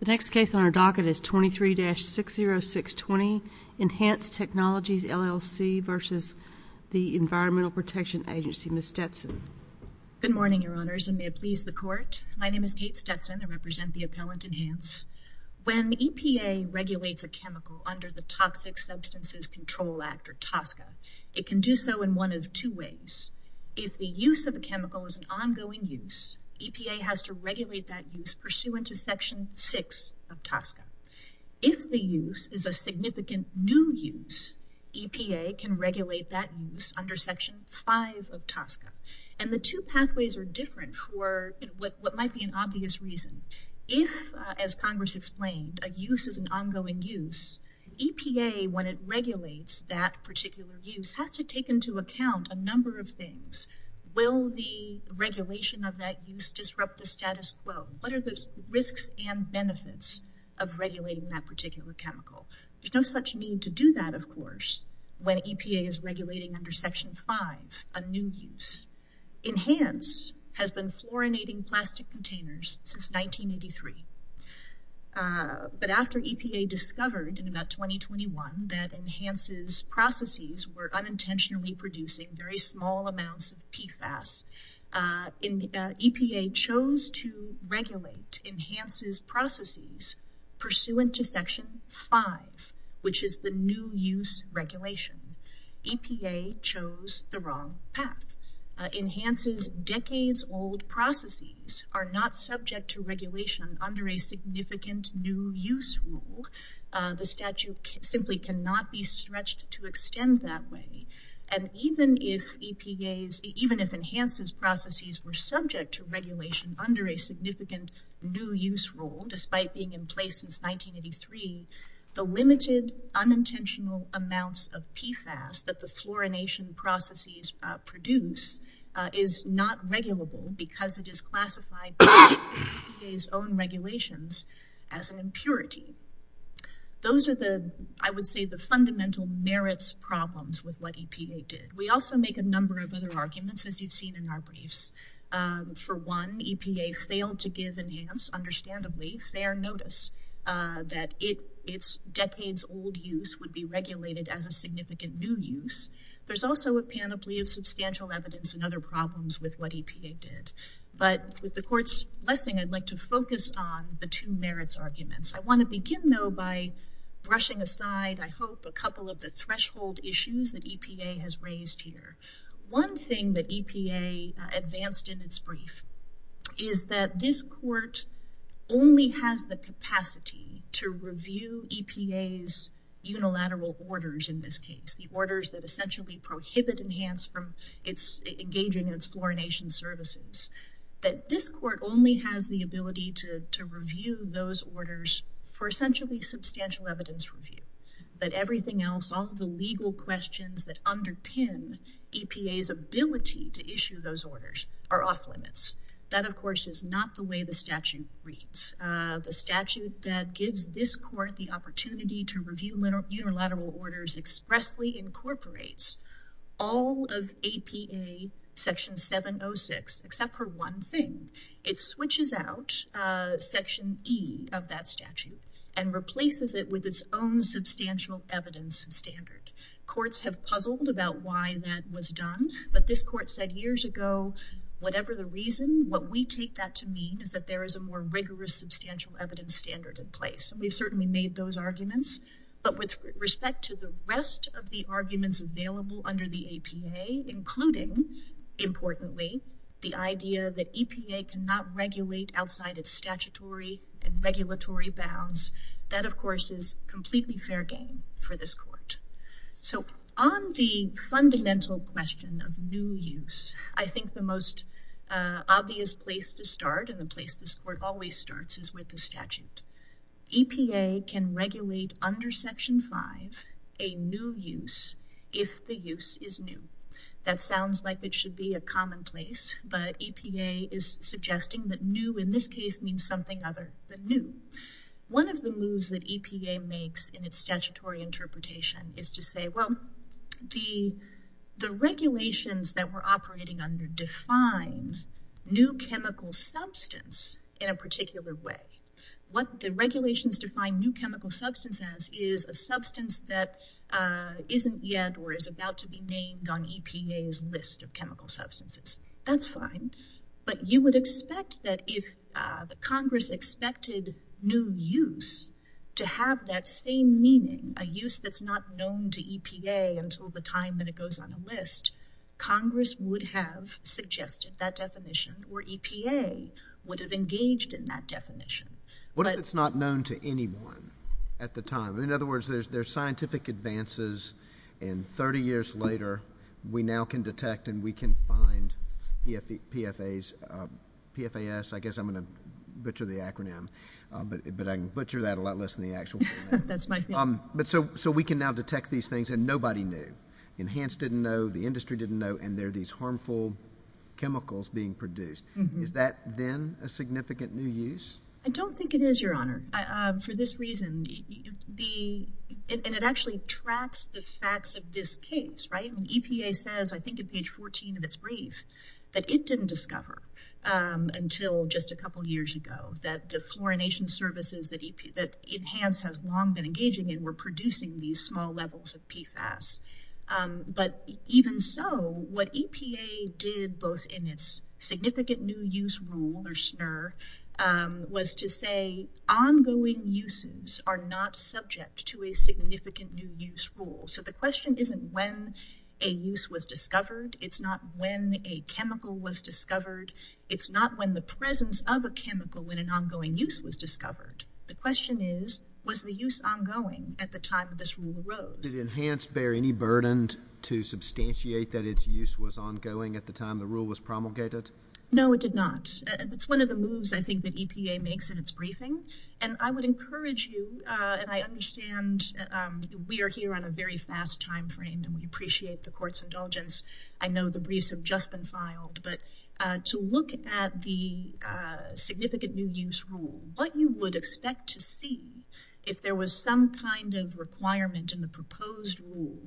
The next case on our docket is 23-60620, Enhance Technologies, LLC v. the Environmental Protection Agency. Ms. Stetson. Good morning, Your Honors, and may it please the Court. My name is Kate Stetson. I represent the appellant, Enhance. When EPA regulates a chemical under the Toxic Substances Control Act, or TOSCA, it can do so in one of two ways. If the use of a chemical is an ongoing use, EPA has to regulate that use pursuant to Section 6 of TOSCA. If the use is a significant new use, EPA can regulate that use under Section 5 of TOSCA. And the two pathways are different for what might be an obvious reason. If, as Congress explained, a use is an ongoing use, EPA, when it regulates that particular use, has to take into account a number of things. Will the regulation of that use disrupt the status quo? What are the risks and benefits of regulating that particular chemical? There's no such need to do that, of course, when EPA is regulating under Section 5 a new use. Enhance has been fluorinating plastic containers since 1983. But after EPA discovered in about 2021 that Enhance's processes were unintentionally producing very small amounts of PFAS, EPA chose to regulate Enhance's processes pursuant to Section 5, which is the new use regulation. EPA chose the wrong path. Enhance's decades-old processes are not subject to regulation under a significant new use rule. The statute simply cannot be stretched to extend that way. And even if Enhance's processes were subject to regulation under a significant new use rule, despite being in place since 1983, the limited unintentional amounts of PFAS that the fluorination processes produce is not regulable because it is classified by EPA's own regulations as an impurity. Those are the, I would say, the fundamental merits problems with what EPA did. We also make a number of other arguments, as you've seen in our briefs. For one, EPA failed to give Enhance, understandably, fair notice that its decades-old use would be regulated as a significant new use. There's also a panoply of substantial evidence and other problems with what EPA did. But with the Court's blessing, I'd like to focus on the two merits arguments. I want to begin, though, by brushing aside, I hope, a couple of the threshold issues that EPA has raised here. One thing that EPA advanced in its brief is that this Court only has the capacity to review EPA's unilateral orders, in this case, the orders that essentially prohibit Enhance from engaging in its fluorination services. That this Court only has the ability to review those orders for essentially substantial evidence review. That everything else, all the legal questions that underpin EPA's ability to issue those orders are off-limits. That, of course, is not the way the statute reads. The statute that expressly incorporates all of EPA Section 706, except for one thing, it switches out Section E of that statute and replaces it with its own substantial evidence standard. Courts have puzzled about why that was done, but this Court said years ago, whatever the reason, what we take that to mean is that there is a more rigorous substantial evidence standard in place. We've made those arguments, but with respect to the rest of the arguments available under the APA, including, importantly, the idea that EPA cannot regulate outside of statutory and regulatory bounds, that, of course, is completely fair game for this Court. So, on the fundamental question of new use, I think the most obvious place to start and the place this Court always starts is with the statute. EPA can regulate under Section 5 a new use if the use is new. That sounds like it should be a commonplace, but EPA is suggesting that new, in this case, means something other than new. One of the moves that EPA makes in its statutory interpretation is to say, well, the regulations that we're operating under define new chemical substance in a particular way. What the regulations define new chemical substance as is a substance that isn't yet or is about to be named on EPA's list of chemical substances. That's fine, but you would expect that if the Congress expected new use to have that same meaning, a use that's not known to EPA until the time that it goes on a list, Congress would have suggested that definition or EPA would have engaged in that definition. What if it's not known to anyone at the time? In other words, there's scientific advances, and 30 years later, we now can detect and we can find PFAS. I guess I'm going to butcher the acronym, but I can butcher that a lot less than the actual acronym. That's my fault. So, we can now detect these things, and nobody knew. Enhance didn't know, the industry didn't know, and there are these harmful chemicals being produced. Is that then a significant new use? I don't think it is, Your Honor. For this reason, and it actually tracks the facts of this case, right? EPA says, I think at page 14 of its brief, that it didn't discover until just a couple of years ago that the fluorination services that Enhance has long been engaging in were producing these small levels of PFAS. But even so, what EPA did both in its significant new use rule or SNR was to say ongoing uses are not subject to a significant new use rule. So, the question isn't when a use was discovered, it's not when a chemical was discovered, it's not when the presence of a chemical in an ongoing use was discovered. The question is, was the use ongoing at the time of this rule arose? Did Enhance bear any burden to substantiate that its use was ongoing at the time the rule was promulgated? No, it did not. It's one of the moves, I think, that EPA makes in its briefing, and I would encourage you, and I understand we are here on a very fast time frame, and we appreciate the Court's indulgence. I know the briefs have just been filed, but to look at the significant new use rule, what you would expect to see if there was some kind of requirement in the proposed rule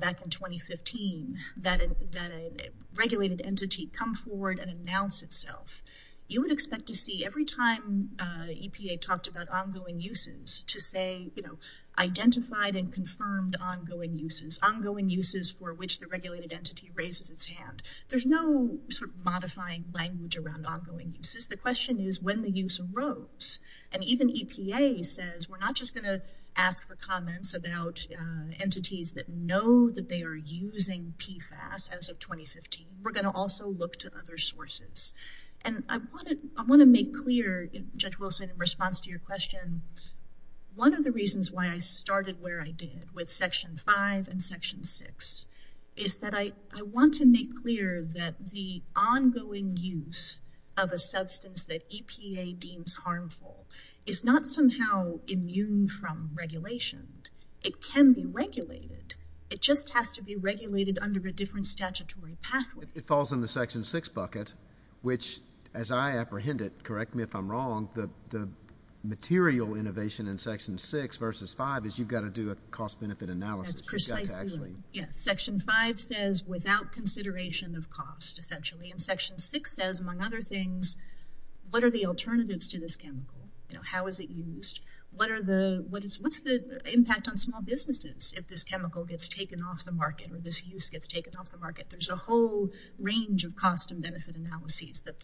back in 2015 that a regulated entity come forward and announce itself, you would expect to see every time EPA talked about ongoing uses to say, you know, identified and confirmed ongoing uses. Ongoing uses for which the regulated entity raises its hand. There's no sort of modifying language around ongoing uses. The question is when the use arose, and even EPA says we're not just going to ask for comments about entities that know that they are using PFAS as of 2015. We're going to also look to other sources, and I want to make clear, Judge Wilson, in response to your question, one of the reasons why I started where I did with Section 5 and Section 6 is that I want to make clear that the ongoing use of a substance that EPA deems harmful is not somehow immune from regulation. It can be regulated. It just has to be regulated under a different statutory pathway. It falls in the Section 6 bucket, which, as I apprehend it, correct me if I'm wrong, the material innovation in Section 6 versus 5 is you've got to do a cost-benefit analysis. Yes, Section 5 says without consideration of cost, essentially, and Section 6 says, among other things, what are the alternatives to this chemical? How is it used? What's the impact on small businesses if this chemical gets taken off the market or this use gets taken off the market? There's a whole range of cost and benefit analyses that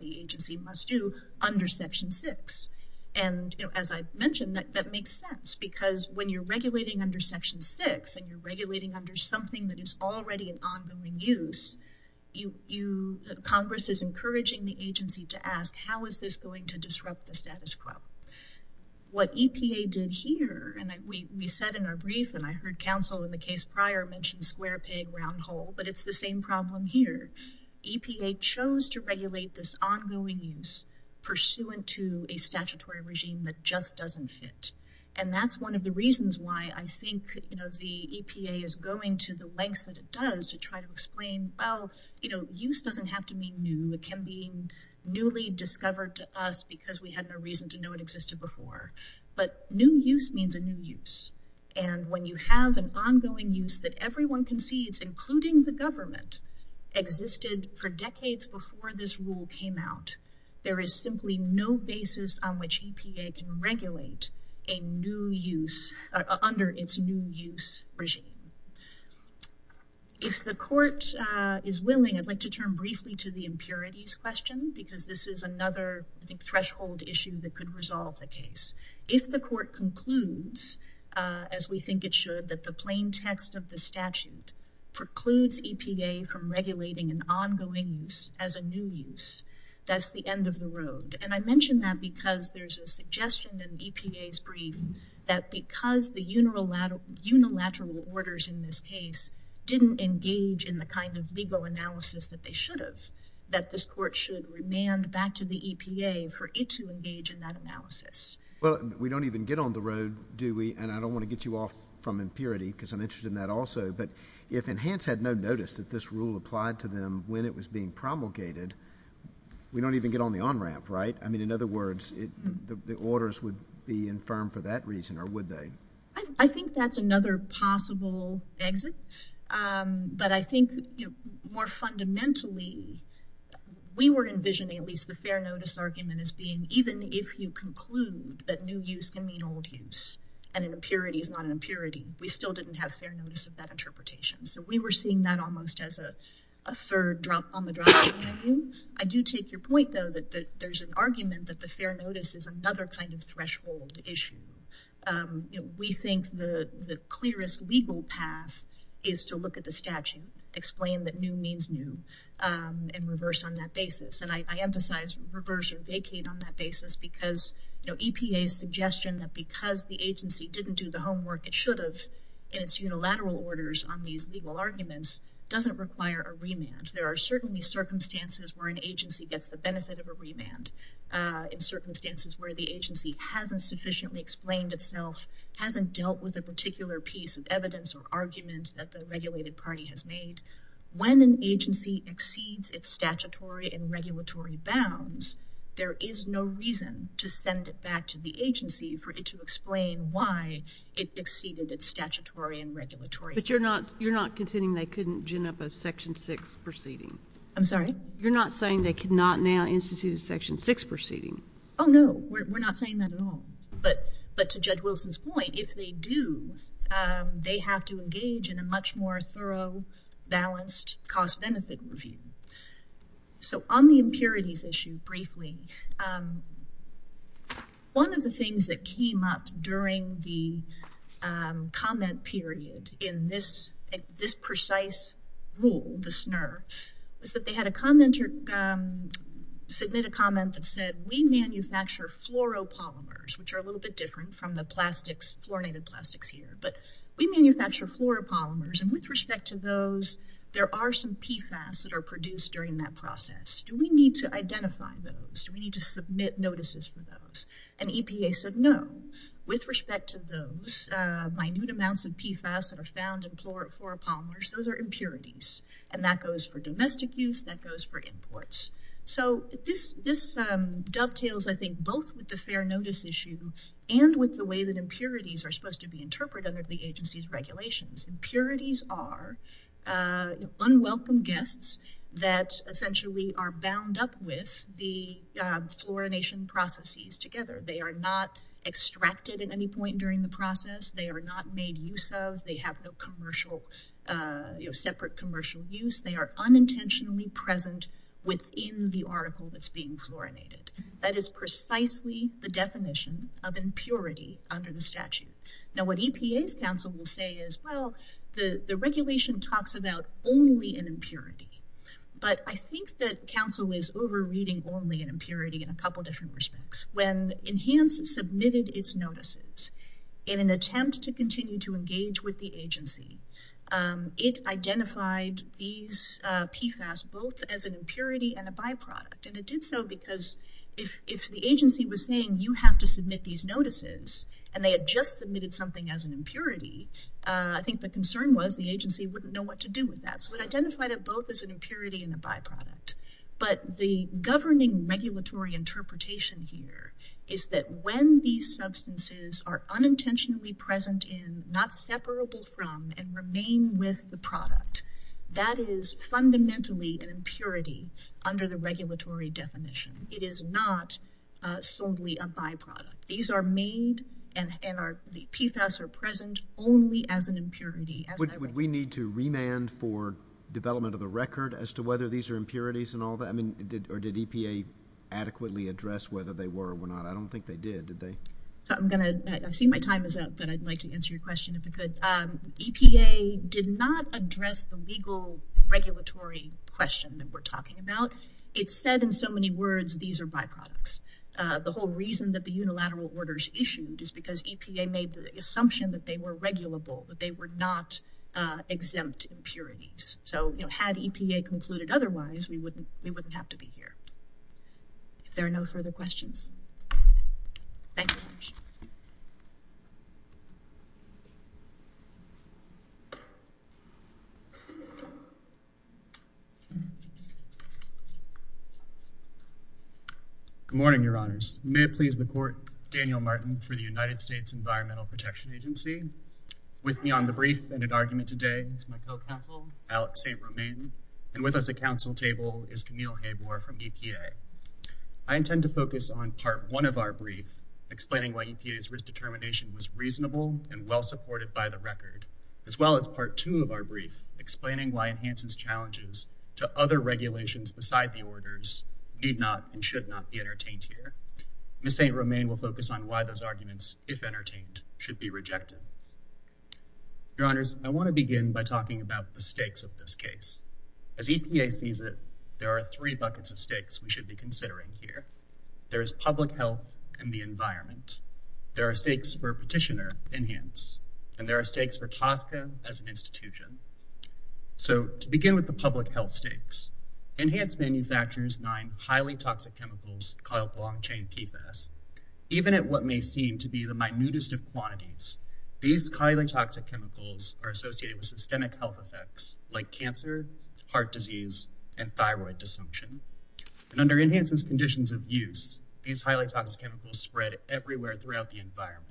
the agency must do under Section 6, and as I mentioned, that makes sense because when you're regulating under Section 6 and you're regulating under something that is already an ongoing use, Congress is encouraging the agency to ask, how is this going to disrupt the status quo? What EPA did here, and we said in our brief, and I heard counsel in the case prior mention square peg, round hole, but it's same problem here. EPA chose to regulate this ongoing use pursuant to a statutory regime that just doesn't fit, and that's one of the reasons why I think the EPA is going to the lengths that it does to try to explain, well, use doesn't have to mean new. It can mean newly discovered to us because we had no reason to know it existed before, but new use means a new use, and when you have an ongoing use that everyone concedes, including the government, existed for decades before this rule came out, there is simply no basis on which EPA can regulate a new use under its new use regime. If the court is willing, I'd like to turn briefly to the impurities question because this is another, I think, threshold issue that could resolve the case. If the court concludes, as we think it should, that the plain text of the statute precludes EPA from regulating an ongoing use as a new use, that's the end of the road, and I mention that because there's a suggestion in EPA's brief that because the unilateral orders in this case didn't engage in the kind of legal analysis that they should have, that this court should remand back to the and I don't want to get you off from impurity because I'm interested in that also, but if Enhance had no notice that this rule applied to them when it was being promulgated, we don't even get on the on-ramp, right? I mean, in other words, the orders would be infirmed for that reason, or would they? I think that's another possible exit, but I think more fundamentally, we were envisioning at least the fair notice argument as being even if you and an impurity is not an impurity, we still didn't have fair notice of that interpretation, so we were seeing that almost as a third drop on the drop-down menu. I do take your point, though, that there's an argument that the fair notice is another kind of threshold issue. We think the clearest legal path is to look at the statute, explain that new means new, and reverse on that basis, and I emphasize reverse or vacate on that basis because EPA's suggestion that because the agency didn't do the homework it should have in its unilateral orders on these legal arguments doesn't require a remand. There are certainly circumstances where an agency gets the benefit of a remand, in circumstances where the agency hasn't sufficiently explained itself, hasn't dealt with a particular piece of evidence or argument that the regulated party has made. When an agency exceeds its statutory and regulatory bounds, there is no reason to send it back to the agency for it to explain why it exceeded its statutory and regulatory bounds. But you're not you're not contending they couldn't gin up a section 6 proceeding? I'm sorry? You're not saying they cannot now institute a section 6 proceeding? Oh, no, we're not saying that at all, but to Judge Wilson's point, if they do, they have to engage in a much more thorough, balanced cost-benefit review. So on the impurities issue briefly, one of the things that came up during the comment period in this precise rule, the SNR, was that they had a commenter submit a comment that said, we manufacture fluoropolymers, which are a little bit different from the plastics, fluorinated plastics here, but we manufacture fluoropolymers, and with respect to those, there are some PFAS that are produced during that process. Do we need to identify those? Do we need to submit notices for those? And EPA said no. With respect to those, minute amounts of PFAS that are found in fluoropolymers, those are impurities, and that goes for domestic use, that goes for imports. So this dovetails, I think, both with the fair notice issue and with the way that impurities are supposed to be interpreted under the agency's regulations. Impurities are unwelcome guests that essentially are bound up with the fluorination processes together. They are not extracted at any point during the process. They are not made use of. They have no commercial, you know, separate commercial use. They are unintentionally present within the article that's being fluorinated. That is precisely the definition of impurity under the statute. Now, what EPA's counsel will say is, well, the regulation talks about only an impurity, but I think that counsel is over-reading only an impurity in a couple different respects. When Enhance submitted its notices in an attempt to continue to engage with the agency, it identified these PFAS both as an impurity and a byproduct, and it did so because if the agency was saying, you have to submit these notices, and they had just submitted something as an impurity, I think the concern was the agency wouldn't know what to do with that. So it identified it both as an impurity and a byproduct. But the governing regulatory interpretation here is that when these substances are unintentionally present in, not separable from, and remain with the product, that is fundamentally an impurity under the regulatory definition. It is not solely a byproduct. These are made, and the PFAS are present only as an impurity. Would we need to remand for development of the record as to whether these are impurities and all that? Or did EPA adequately address whether they were or were not? I don't think they did, did they? I see my time is up, but I'd like to answer your question if I could. EPA did not address the legal regulatory question that we're talking about. It said in so many words, these are byproducts. The whole reason that the unilateral orders issued is because EPA made the assumption that they were regulable, that they were not exempt impurities. So, you know, had EPA concluded otherwise, we wouldn't have to be here. If there are no further questions. Thank you very much. Good morning, Your Honors. May it please the Court, Daniel Martin for the United States Environmental Protection Agency. With me on the brief and in argument today is my co-counsel, Alex St. Romain, and with us at council table is Camille Habor from EPA. I intend to focus on part one of our brief, explaining why EPA's risk determination was reasonable and well supported by the record, as well as part two of our brief, explaining why Enhancement's challenges to other regulations beside the orders need not and should not be entertained here. Ms. St. Romain will focus on why those arguments, if entertained, should be of this case. As EPA sees it, there are three buckets of stakes we should be considering here. There is public health and the environment. There are stakes for Petitioner, Enhance, and there are stakes for TSCA as an institution. So to begin with the public health stakes, Enhance manufactures nine highly toxic chemicals called long chain PFAS. Even at what may seem to be the minutest of quantities, these highly toxic chemicals are associated with systemic health effects like cancer, heart disease, and thyroid dysfunction. And under Enhance's conditions of use, these highly toxic chemicals spread everywhere throughout the environment.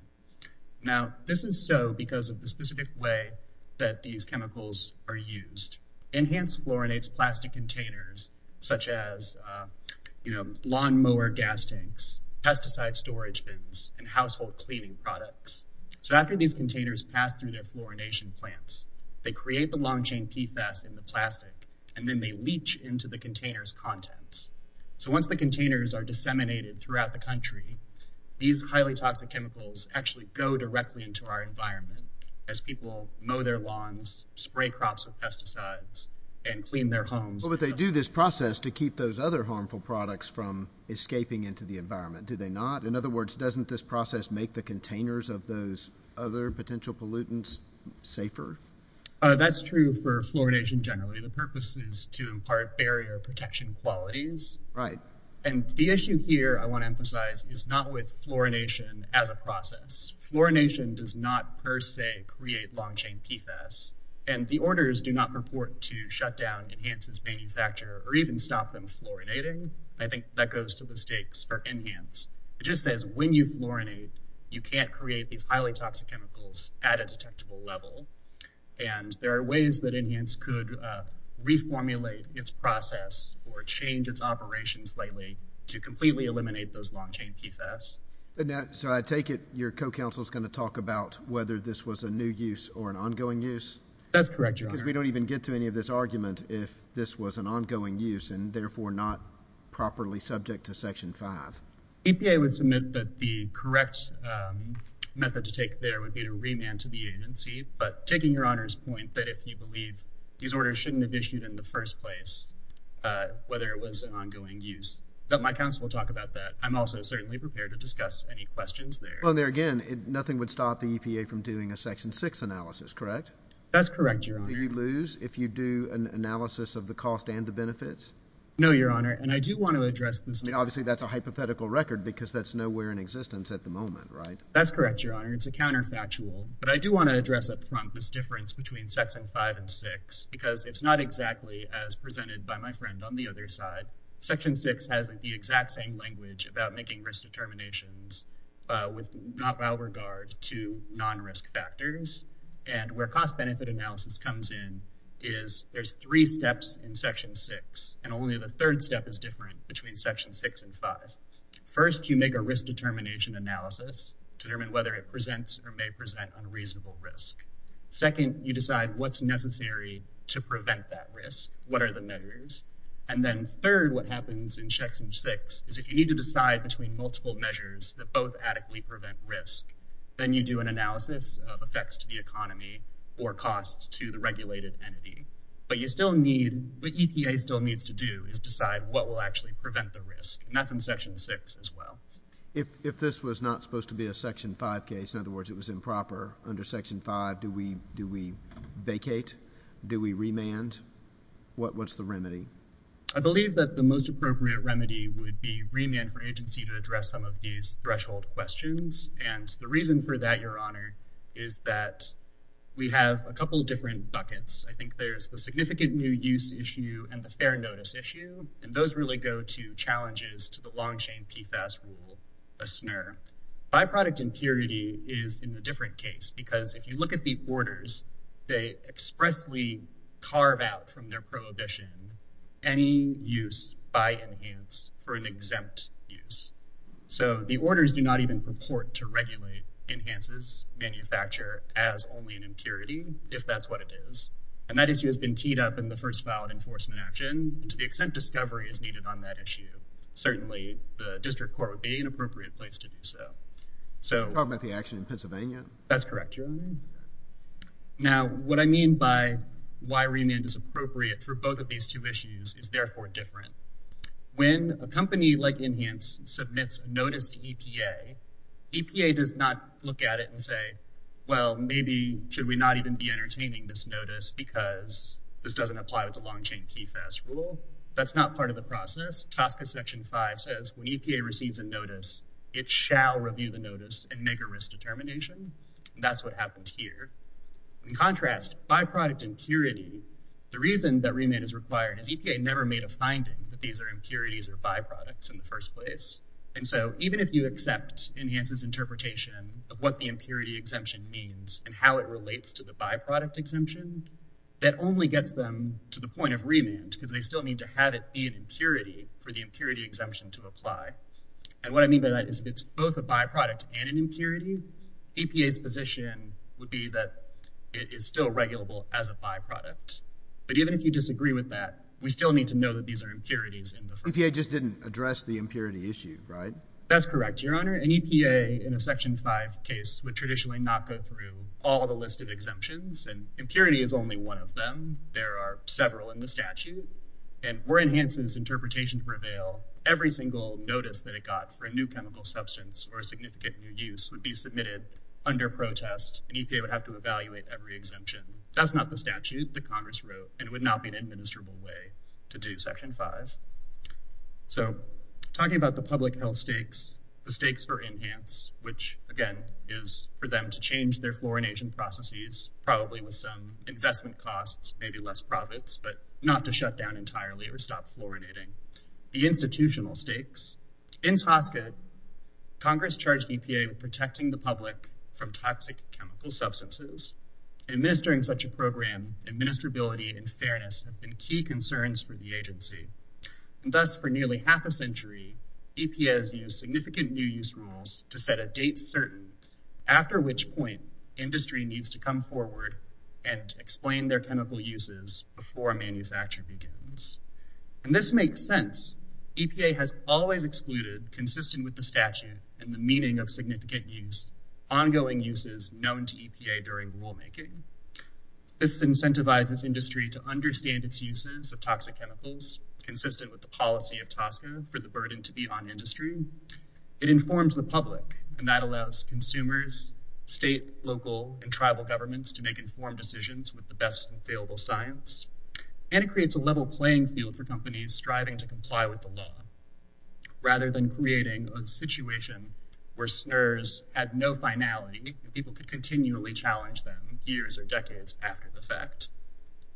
Now, this is so because of the specific way that these chemicals are used. Enhance fluorinates plastic containers such as lawnmower gas tanks, pesticide storage bins, and household cleaning products. So after these containers pass through their fluorination plants, they create the long chain PFAS in the plastic and then they leach into the containers contents. So once the containers are disseminated throughout the country, these highly toxic chemicals actually go directly into our environment as people mow their lawns, spray crops with pesticides, and clean their homes. But they do this process to keep those other harmful products from escaping into the environment, do they not? In other words, doesn't this process make the containers of those other potential pollutants safer? That's true for fluorination generally. The purpose is to impart barrier protection qualities. Right. And the issue here I want to emphasize is not with fluorination as a process. Fluorination does not per se create long chain PFAS and the orders do not purport to shut down Enhance's manufacturer or even stop them fluorinating. I think that goes to the It just says when you fluorinate, you can't create these highly toxic chemicals at a detectable level. And there are ways that Enhance could reformulate its process or change its operations slightly to completely eliminate those long chain PFAS. So I take it your co-counsel is going to talk about whether this was a new use or an ongoing use? That's correct, your honor. Because we don't even get to any of this argument if this was an EPA would submit that the correct method to take there would be to remand to the agency. But taking your honor's point that if you believe these orders shouldn't have issued in the first place, whether it was an ongoing use that my counsel will talk about that. I'm also certainly prepared to discuss any questions there. Well, there again, nothing would stop the EPA from doing a section six analysis, correct? That's correct. You lose if you do an analysis of the cost and the benefits. No, your honor. And I do want to address this. I mean, obviously, that's a hypothetical record because that's nowhere in existence at the moment, right? That's correct, your honor. It's a counterfactual. But I do want to address up front this difference between section five and six, because it's not exactly as presented by my friend on the other side. Section six has the exact same language about making risk determinations with not by regard to non-risk factors. And where cost benefit analysis comes in is there's three steps in section six, and only the third step is different between section six and five. First, you make a risk determination analysis to determine whether it presents or may present unreasonable risk. Second, you decide what's necessary to prevent that risk. What are the measures? And then third, what happens in section six is if you need to decide between multiple measures that both adequately prevent risk, then you do an analysis of effects to the economy or costs to the regulated entity. But you still need, what EPA still needs to do is decide what will actually prevent the risk. And that's in section six as well. If this was not supposed to be a section five case, in other words, it was improper under section five, do we vacate? Do we remand? What's the remedy? I believe that the most appropriate remedy would be remand for agency to address some of these threshold questions. And the reason for that, your honor, is that we have a couple of different buckets. I think there's the significant new use issue and the fair notice issue, and those really go to challenges to the long chain PFAS rule, a SNR. Byproduct impurity is in a different case because if you look at the orders, they expressly carve out from their prohibition any use by enhance for an exempt use. So the orders do not even report to regulate enhances manufacture as only an impurity, if that's what it is. And that issue has been teed up in the first valid enforcement action to the extent discovery is needed on that issue. Certainly the district court would be an appropriate place to do so. So- Talking about the action in Pennsylvania? That's correct, your honor. Now, what I mean by why remand is appropriate for both of these two EPA does not look at it and say, well, maybe should we not even be entertaining this notice because this doesn't apply with the long chain PFAS rule. That's not part of the process. TSCA section five says when EPA receives a notice, it shall review the notice and make a risk determination. And that's what happened here. In contrast, byproduct impurity, the reason that remand is required is EPA never made a finding that these are impurities or byproducts in the enhances interpretation of what the impurity exemption means and how it relates to the byproduct exemption that only gets them to the point of remand because they still need to have it be an impurity for the impurity exemption to apply. And what I mean by that is it's both a byproduct and an impurity. EPA's position would be that it is still regulable as a byproduct. But even if you disagree with that, we still need to know that these are impurities in the- EPA just didn't address the impurity issue, right? That's correct, your honor. An EPA in a section five case would traditionally not go through all the list of exemptions and impurity is only one of them. There are several in the statute and we're enhancing this interpretation prevail. Every single notice that it got for a new chemical substance or a significant new use would be submitted under protest and EPA would have to evaluate every exemption. That's not the statute that Congress wrote and it would not be an administrable way to do section five. So talking about the public health stakes, the stakes for enhance, which again is for them to change their fluorination processes, probably with some investment costs, maybe less profits, but not to shut down entirely or stop fluoridating. The institutional stakes. In Tosca, Congress charged EPA with protecting the public from toxic chemical substances. Administering such a program, administrability and fairness have been key concerns for the agency. And thus for nearly half a century, EPA has used significant new use rules to set a date certain after which point industry needs to come forward and explain their chemical uses before manufacture begins. And this makes sense. EPA has always excluded consistent with the statute and the meaning of significant use, ongoing uses known to EPA during rulemaking. This incentivizes industry to understand its uses of toxic chemicals consistent with the policy of Tosca for the burden to be on industry. It informs the public and that allows consumers, state, local and tribal governments to make informed decisions with the best available science. And it creates a level playing field for companies striving to comply with the law rather than creating a situation where SNRs had no finality and people could continually challenge them years or decades after the fact.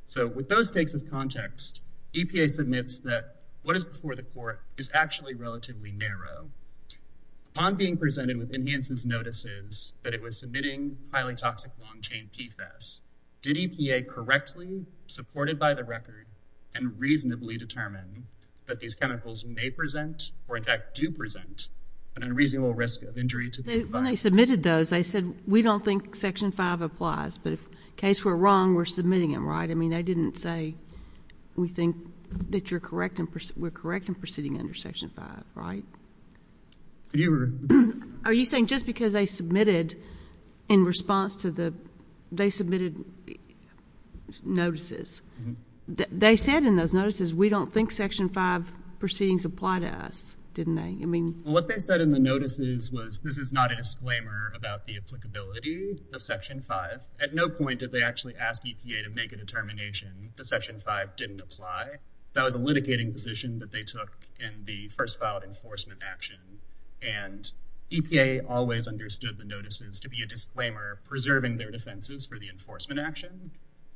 So with those stakes of context, EPA submits that what is before the court is actually relatively narrow. Upon being presented with enhanced notices that it was submitting highly toxic long chain PFAS, did EPA correctly supported by the record and reasonably determine that these submitted those, they said we don't think section 5 applies. But in case we're wrong, we're submitting them, right? I mean, they didn't say we think that you're correct and we're correct in proceeding under section 5, right? Are you saying just because they submitted in response to the, they submitted notices, they said in those notices, we don't think section 5 proceedings apply to us, didn't they? I mean, what they said in the notices was this is not a disclaimer about the applicability of section 5. At no point did they actually ask EPA to make a determination that section 5 didn't apply. That was a litigating position that they took in the first filed enforcement action. And EPA always understood the notices to be a disclaimer preserving their defenses for the enforcement action.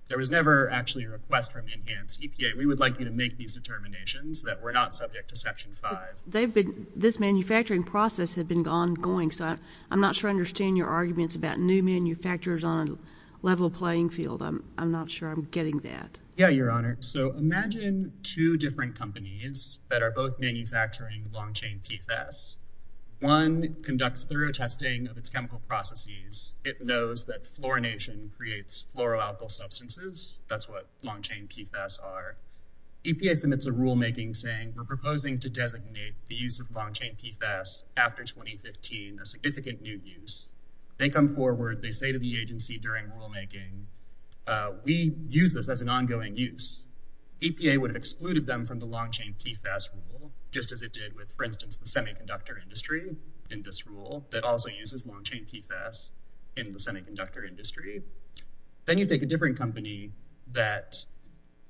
There was never actually a request from enhanced EPA. We would like you to make these determinations that were not subject to section 5. They've been, this manufacturing process has been ongoing. So I'm not sure I understand your arguments about new manufacturers on a level playing field. I'm not sure I'm getting that. Yeah, Your Honor. So imagine two different companies that are both manufacturing long-chain PFAS. One conducts thorough testing of its chemical processes. It knows that fluorination creates fluoroalkyl substances. That's what long-chain PFAS are. EPA submits a rulemaking saying we're proposing to designate the use of long-chain PFAS after 2015, a significant new use. They come forward. They say to the agency during rulemaking, we use this as an ongoing use. EPA would have excluded them from the long-chain PFAS rule, just as it did with, for instance, the semiconductor industry in this rule that also uses long-chain PFAS in the semiconductor industry. Then you take a different company that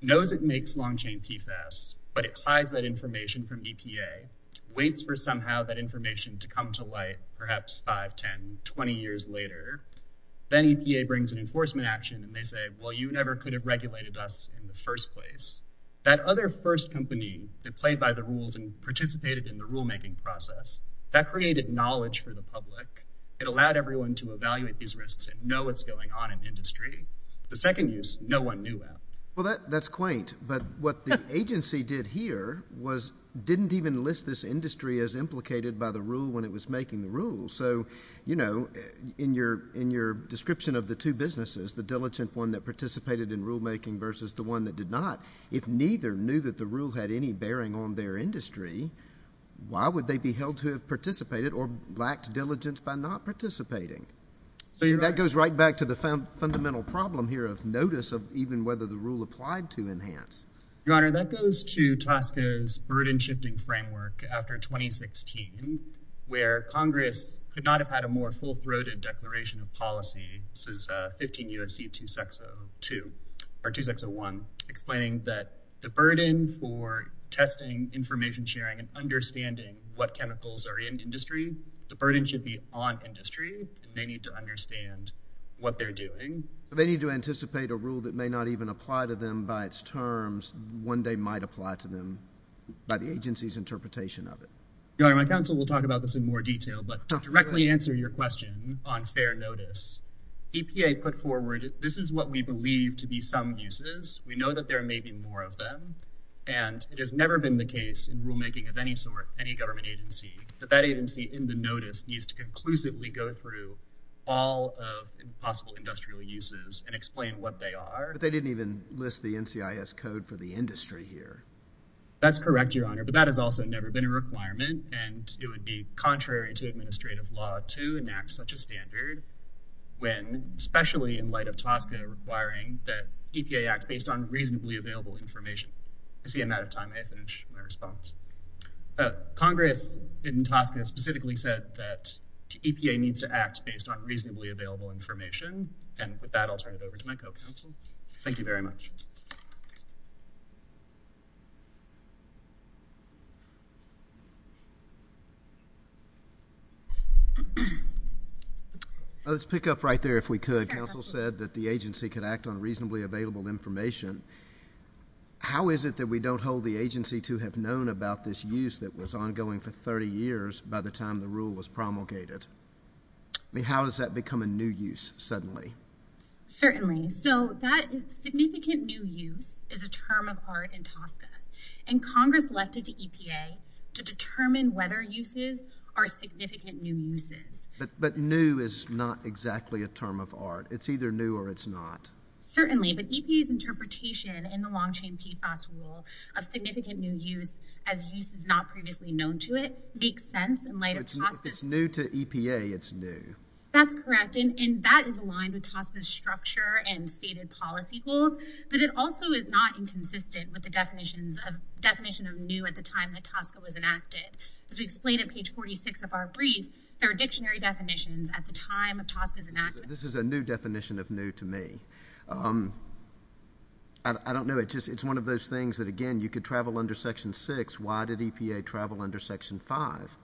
knows it makes long-chain PFAS, but it hides that information from EPA, waits for somehow that information to come to light, perhaps 5, 10, 20 years later. Then EPA brings an enforcement action and they say, well, you never could have regulated us in the first place. That other first company that played by the rules and participated in the rulemaking process, that created knowledge for the public. It allowed everyone to evaluate these risks and know what's going on in the industry. The second use, no one knew about. Well, that's quaint, but what the agency did here was didn't even list this industry as implicated by the rule when it was making the rule. In your description of the two businesses, the diligent one that participated in rulemaking versus the one that did not, if neither knew that the rule had any bearing on their industry, why would they be held to have participated or lacked diligence by not participating? That goes right back to the fundamental problem here of notice of even whether the rule applied to enhance. Your Honor, that goes to TSCA's burden-shifting framework after 2016, where Congress could not have had a more full-throated declaration of policy since 15 U.S.C. 2602, or 2601, explaining that the burden for testing, information sharing, and understanding what chemicals are in industry, the burden should be on industry, and they need to understand what they're doing. They need to anticipate a rule that may not even apply to them by its terms when they might apply to them by the agency's interpretation of it. Your Honor, my counsel will talk about this in more detail, but to directly answer your question on fair notice, EPA put forward, this is what we believe to be some uses. We know that there may be more of them, and it has never been the case in rulemaking of any sort, any government agency, that that agency in the notice needs to conclusively go through all of the possible industrial uses and explain what they are. But they didn't even list the NCIS code for the industry here. That's correct, Your Honor, but that has also never been a requirement, and it would be contrary to administrative law to enact such a standard when, especially in light of TSCA requiring that EPA act based on reasonably available information. I see I'm out of time. I have to finish my response. Congress in TSCA specifically said that EPA needs to act based on reasonably available information, and with that, I'll turn it over to my co-counsel. Thank you very much. Let's pick up right there if we could. Counsel said that the agency could act on reasonably available information. How is it that we don't hold the agency to have known about this use that was ongoing for 30 years by the time the rule was promulgated? I mean, how does that become a new use suddenly? Certainly. So that is significant new use is a term of art in TSCA, and Congress left it to EPA to determine whether uses are significant new uses. But new is not exactly a Certainly, but EPA's interpretation in the long-chain PFAS rule of significant new use as use is not previously known to it makes sense in light of TSCA. If it's new to EPA, it's new. That's correct, and that is aligned with TSCA's structure and stated policy goals, but it also is not inconsistent with the definition of new at the time that TSCA was enacted. As we explained at page 46 of our brief, there are dictionary definitions at the time of I don't know. It's one of those things that, again, you could travel under Section 6. Why did EPA travel under Section 5?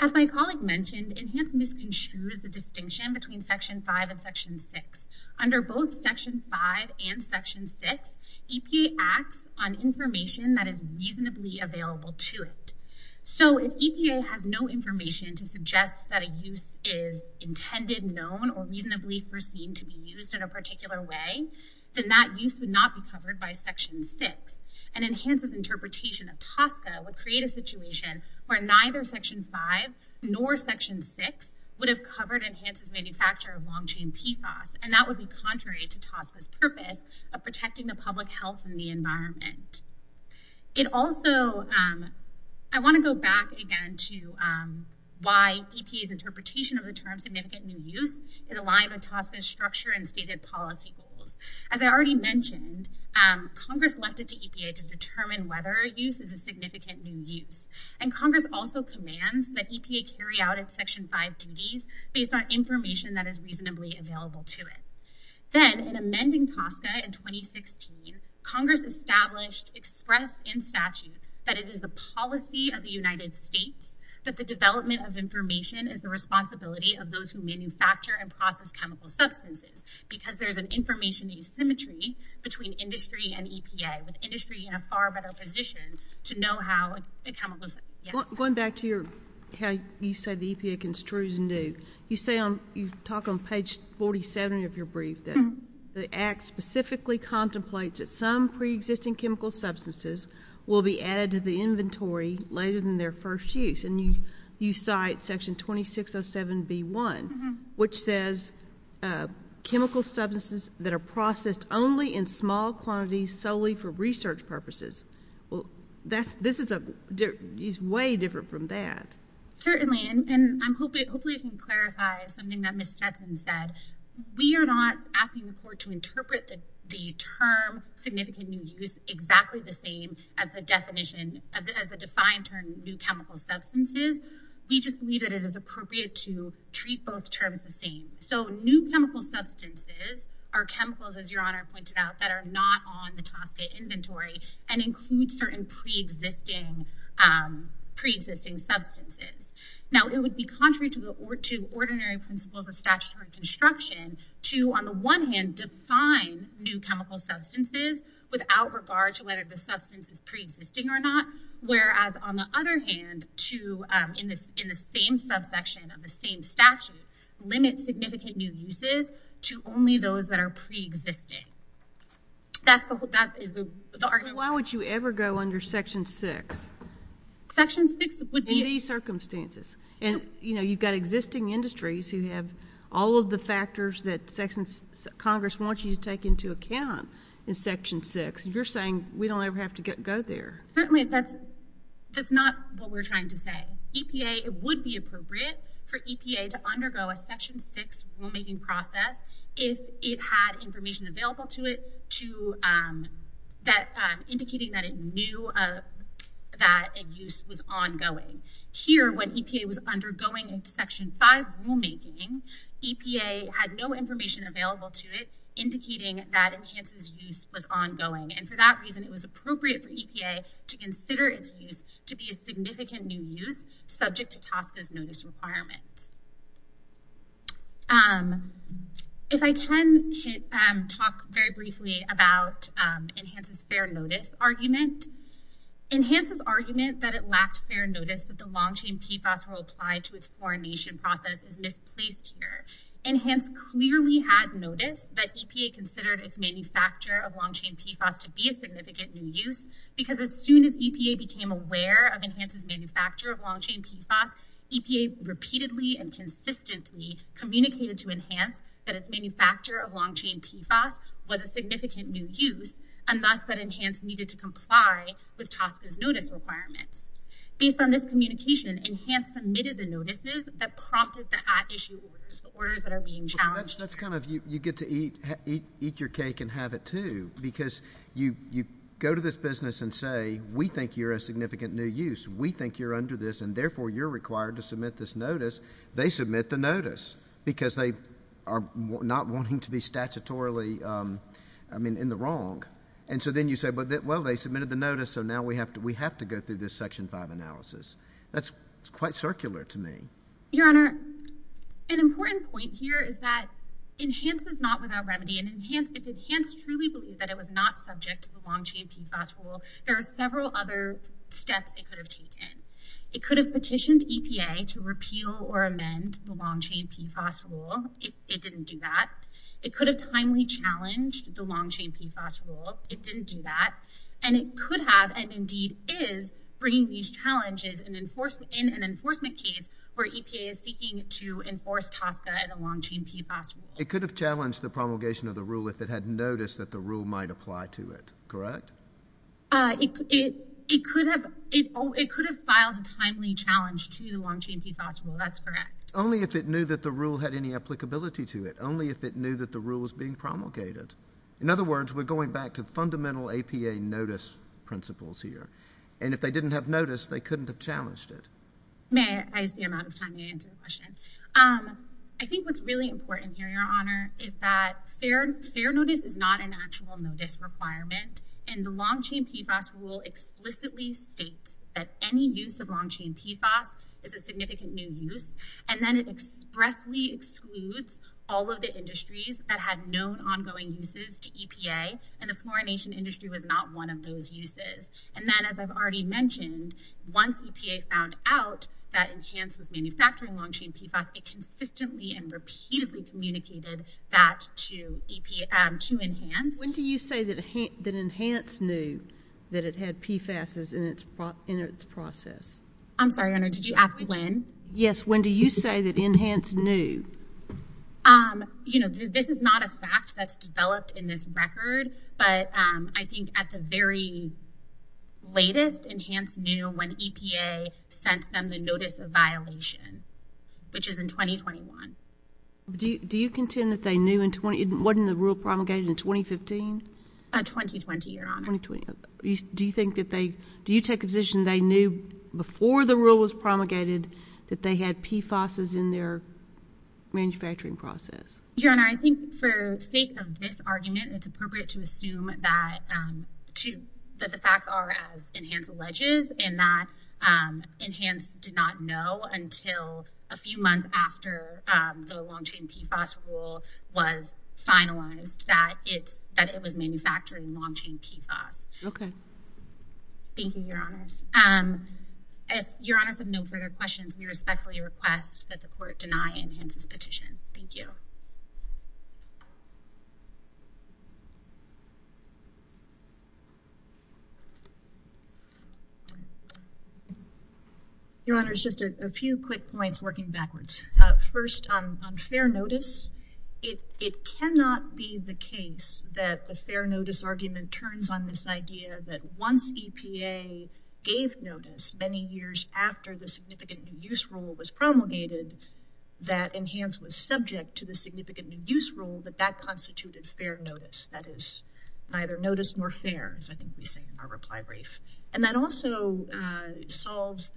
As my colleague mentioned, Enhanced MISC ensures the distinction between Section 5 and Section 6. Under both Section 5 and Section 6, EPA acts on information that is reasonably available to it. So if EPA has no information to suggest that a use is intended, known, or reasonably foreseen to be used in a particular way, then that use would not be covered by Section 6, and Enhance's interpretation of TSCA would create a situation where neither Section 5 nor Section 6 would have covered Enhance's manufacture of long-chain PFAS, and that would be contrary to TSCA's purpose of protecting the public health and the environment. It also, I want to go back again to why EPA's interpretation of the term significant new use is aligned with TSCA's structure and stated policy goals. As I already mentioned, Congress left it to EPA to determine whether a use is a significant new use, and Congress also commands that EPA carry out its Section 5 duties based on information that is reasonably available to it. Then, in amending TSCA in 2016, Congress established, expressed in statute, that it is the policy of the United States that the development of information is the responsibility of those who manufacture and process chemical substances, because there's an information asymmetry between industry and EPA, with industry in a far better position to know how the chemicals— Going back to how you said the EPA construes new, you talk on page 47 of your brief that the Act specifically contemplates that some preexisting chemical substances will be added to the inventory later than their first use, and you cite Section 2607B1, which says, chemical substances that are processed only in small quantities solely for research purposes. Well, that's—this is a—it's way different from that. Certainly, and I'm hoping—hopefully I can clarify something that Ms. Stetson said. We are not asking the Court to interpret the term significant new use exactly the same as the definition—as the defined term new chemical substances. We just believe that it is appropriate to treat both terms the same. So, new chemical substances are chemicals, as Your Honor pointed out, that are not on the TASCA inventory and include certain preexisting substances. Now, it would be contrary to ordinary principles of statutory construction to, on the one hand, define new chemical substances without regard to whether the substance is preexisting or not, whereas, on the other hand, to, in the same subsection of the same statute, limit significant new uses to only those that are preexisting. That's the—that is the argument. Why would you ever go under Section 6? Section 6 would be— In these circumstances. And, you know, you've got existing industries who have all of the factors that Section—Congress wants you to take into account in Section 6. You're saying we don't ever have to go there. Certainly, that's—that's not what we're trying to say. EPA—it would be appropriate for EPA to undergo a Section 6 rulemaking process if it had information available to it to—that—indicating that it knew that a use was ongoing. Here, when EPA was undergoing Section 5 rulemaking, EPA had no information available to it indicating that Enhance's use was ongoing. And for that reason, it was appropriate for EPA to consider its use to be a significant new use subject to Section 6. If I can hit—talk very briefly about Enhance's fair notice argument. Enhance's argument that it lacked fair notice that the long-chain PFAS rule applied to its foreign nation process is misplaced here. Enhance clearly had notice that EPA considered its manufacture of long-chain PFAS to be a significant new use because as soon as EPA became aware of Enhance's manufacture of PFAS, EPA consistently communicated to Enhance that its manufacture of long-chain PFAS was a significant new use and thus that Enhance needed to comply with TSCA's notice requirements. Based on this communication, Enhance submitted the notices that prompted the at-issue orders—orders that are being challenged. That's kind of—you get to eat—eat your cake and have it too because you—you go to this business and say, we think you're a significant new use. We think you're under this and therefore you're required to submit this notice. They submit the notice because they are not wanting to be statutorily, I mean, in the wrong. And so then you say, well, they submitted the notice so now we have to—we have to go through this Section 5 analysis. That's quite circular to me. Your Honor, an important point here is that Enhance is not without remedy and Enhance—if Enhance truly believed that it was not subject to the long-chain PFAS rule, there are several other steps it could have taken. It could have petitioned EPA to repeal or amend the long-chain PFAS rule. It—it didn't do that. It could have timely challenged the long-chain PFAS rule. It didn't do that. And it could have and indeed is bringing these challenges in enforcement—in an enforcement case where EPA is seeking to enforce TSCA and the long-chain PFAS rule. It could have challenged the promulgation of the rule if it had noticed that the rule might apply to it. Correct? It—it—it could have—it could have filed a timely challenge to the long-chain PFAS rule. That's correct. Only if it knew that the rule had any applicability to it. Only if it knew that the rule was being promulgated. In other words, we're going back to fundamental APA notice principles here. And if they didn't have notice, they couldn't have challenged it. May I use the amount of time to answer the question? I think what's really important here, Your Honor, is that fair—fair notice is not an actual notice requirement. And the long-chain PFAS rule explicitly states that any use of long-chain PFAS is a significant new use. And then it expressly excludes all of the industries that had known ongoing uses to EPA. And the fluorination industry was not one of those uses. And then as I've already mentioned, once EPA found out that Enhance was manufacturing long-chain PFAS, it consistently and repeatedly communicated that to EPA—to Enhance. When do you say that Enhance knew that it had PFAS in its process? I'm sorry, Your Honor. Did you ask when? Yes. When do you say that Enhance knew? You know, this is not a fact that's developed in this record. But I think at the very latest, Enhance knew when EPA sent them the notice of violation, which is in 2021. Do you contend that they knew in—wasn't the rule promulgated in 2015? 2020, Your Honor. Do you think that they—do you take the position they knew before the rule was promulgated that they had PFASs in their manufacturing process? Your Honor, I think for sake of this argument, it's appropriate to assume that the facts are as Enhance alleges and that Enhance did not know until a few months after the long-chain PFAS rule was finalized that it was manufacturing long-chain PFAS. Okay. Thank you, Your Honors. If Your Honors have no further questions, we respectfully request that the Court deny Enhance's petition. Thank you. Your Honors, just a few quick points working backwards. First, on fair notice, it cannot be the case that the fair notice argument turns on this idea that once EPA gave notice many years after the significant new use rule was promulgated that Enhance was subject to the significant new use rule that that constituted fair notice. That is neither notice nor fair, as I think we say in our reply brief. And that also solves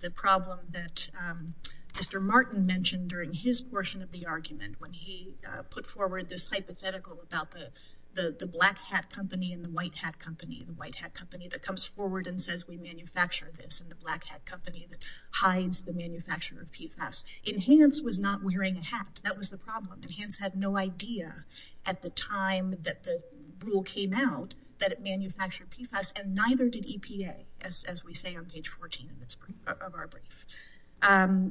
the problem that Mr. Martin mentioned during his portion of the argument when he put forward this hypothetical about the black hat company and the white hat company and the white hat company that comes forward and says we hide the manufacturing of PFAS. Enhance was not wearing a hat. That was the problem. Enhance had no idea at the time that the rule came out that it manufactured PFAS and neither did EPA, as we say on page 14 of our brief.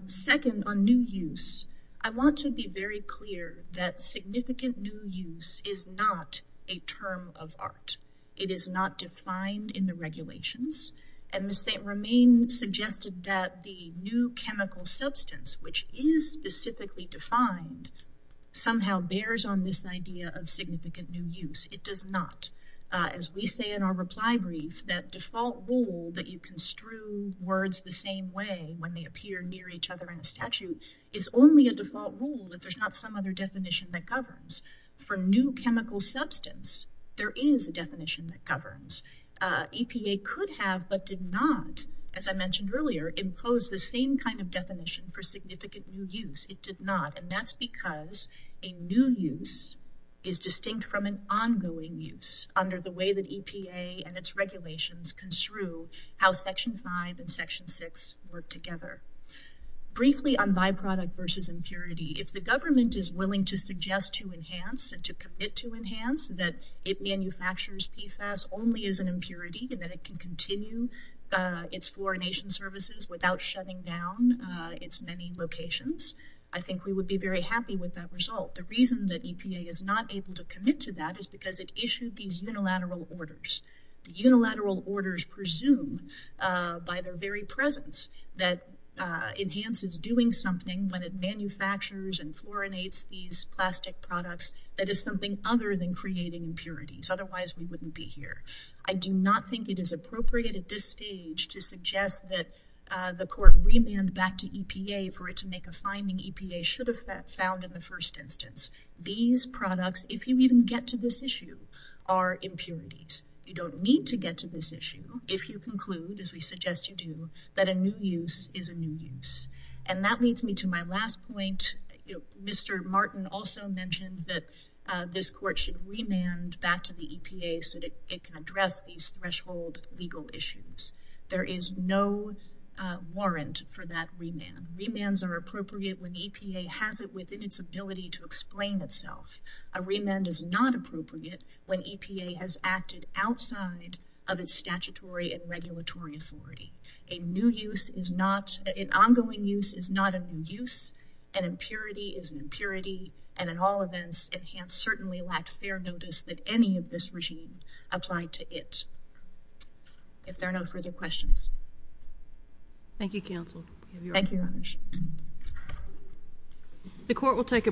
Second, on new use, I want to be very clear that significant new use is not a term of art. It is not defined in the regulations. And Ms. St. Romaine suggested that the new chemical substance, which is specifically defined, somehow bears on this idea of significant new use. It does not. As we say in our reply brief, that default rule that you construe words the same way when they appear near each other in a statute is only a default rule that not some other definition that governs. For new chemical substance, there is a definition that governs. EPA could have but did not, as I mentioned earlier, impose the same kind of definition for significant new use. It did not. And that's because a new use is distinct from an ongoing use under the way that EPA and its regulations construe how section 5 and section 6 work together. Briefly on byproduct versus impurity, if the government is willing to suggest to enhance and to commit to enhance that it manufactures PFAS only as an impurity and that it can continue its fluorination services without shutting down its many locations, I think we would be very happy with that result. The reason that EPA is not able to commit to that is because it that enhances doing something when it manufactures and fluorinates these plastic products that is something other than creating impurities. Otherwise, we wouldn't be here. I do not think it is appropriate at this stage to suggest that the court remand back to EPA for it to make a finding EPA should have found in the first instance. These products, if you even get to this issue, are impurities. You don't need to get to this issue if you conclude, as we suggest you do, that a new use is a new use. That leads me to my last point. Mr. Martin also mentioned that this court should remand back to the EPA so that it can address these threshold legal issues. There is no warrant for that remand. Remands are appropriate when EPA has it within its ability to explain itself. A remand is not appropriate when EPA has acted outside of its statutory and new use. An ongoing use is not a new use. An impurity is an impurity. In all events, it has certainly lacked fair notice that any of this regime applied to it, if there are no further questions. Thank you, counsel. Thank you, Your Honor. The court will take a brief recess.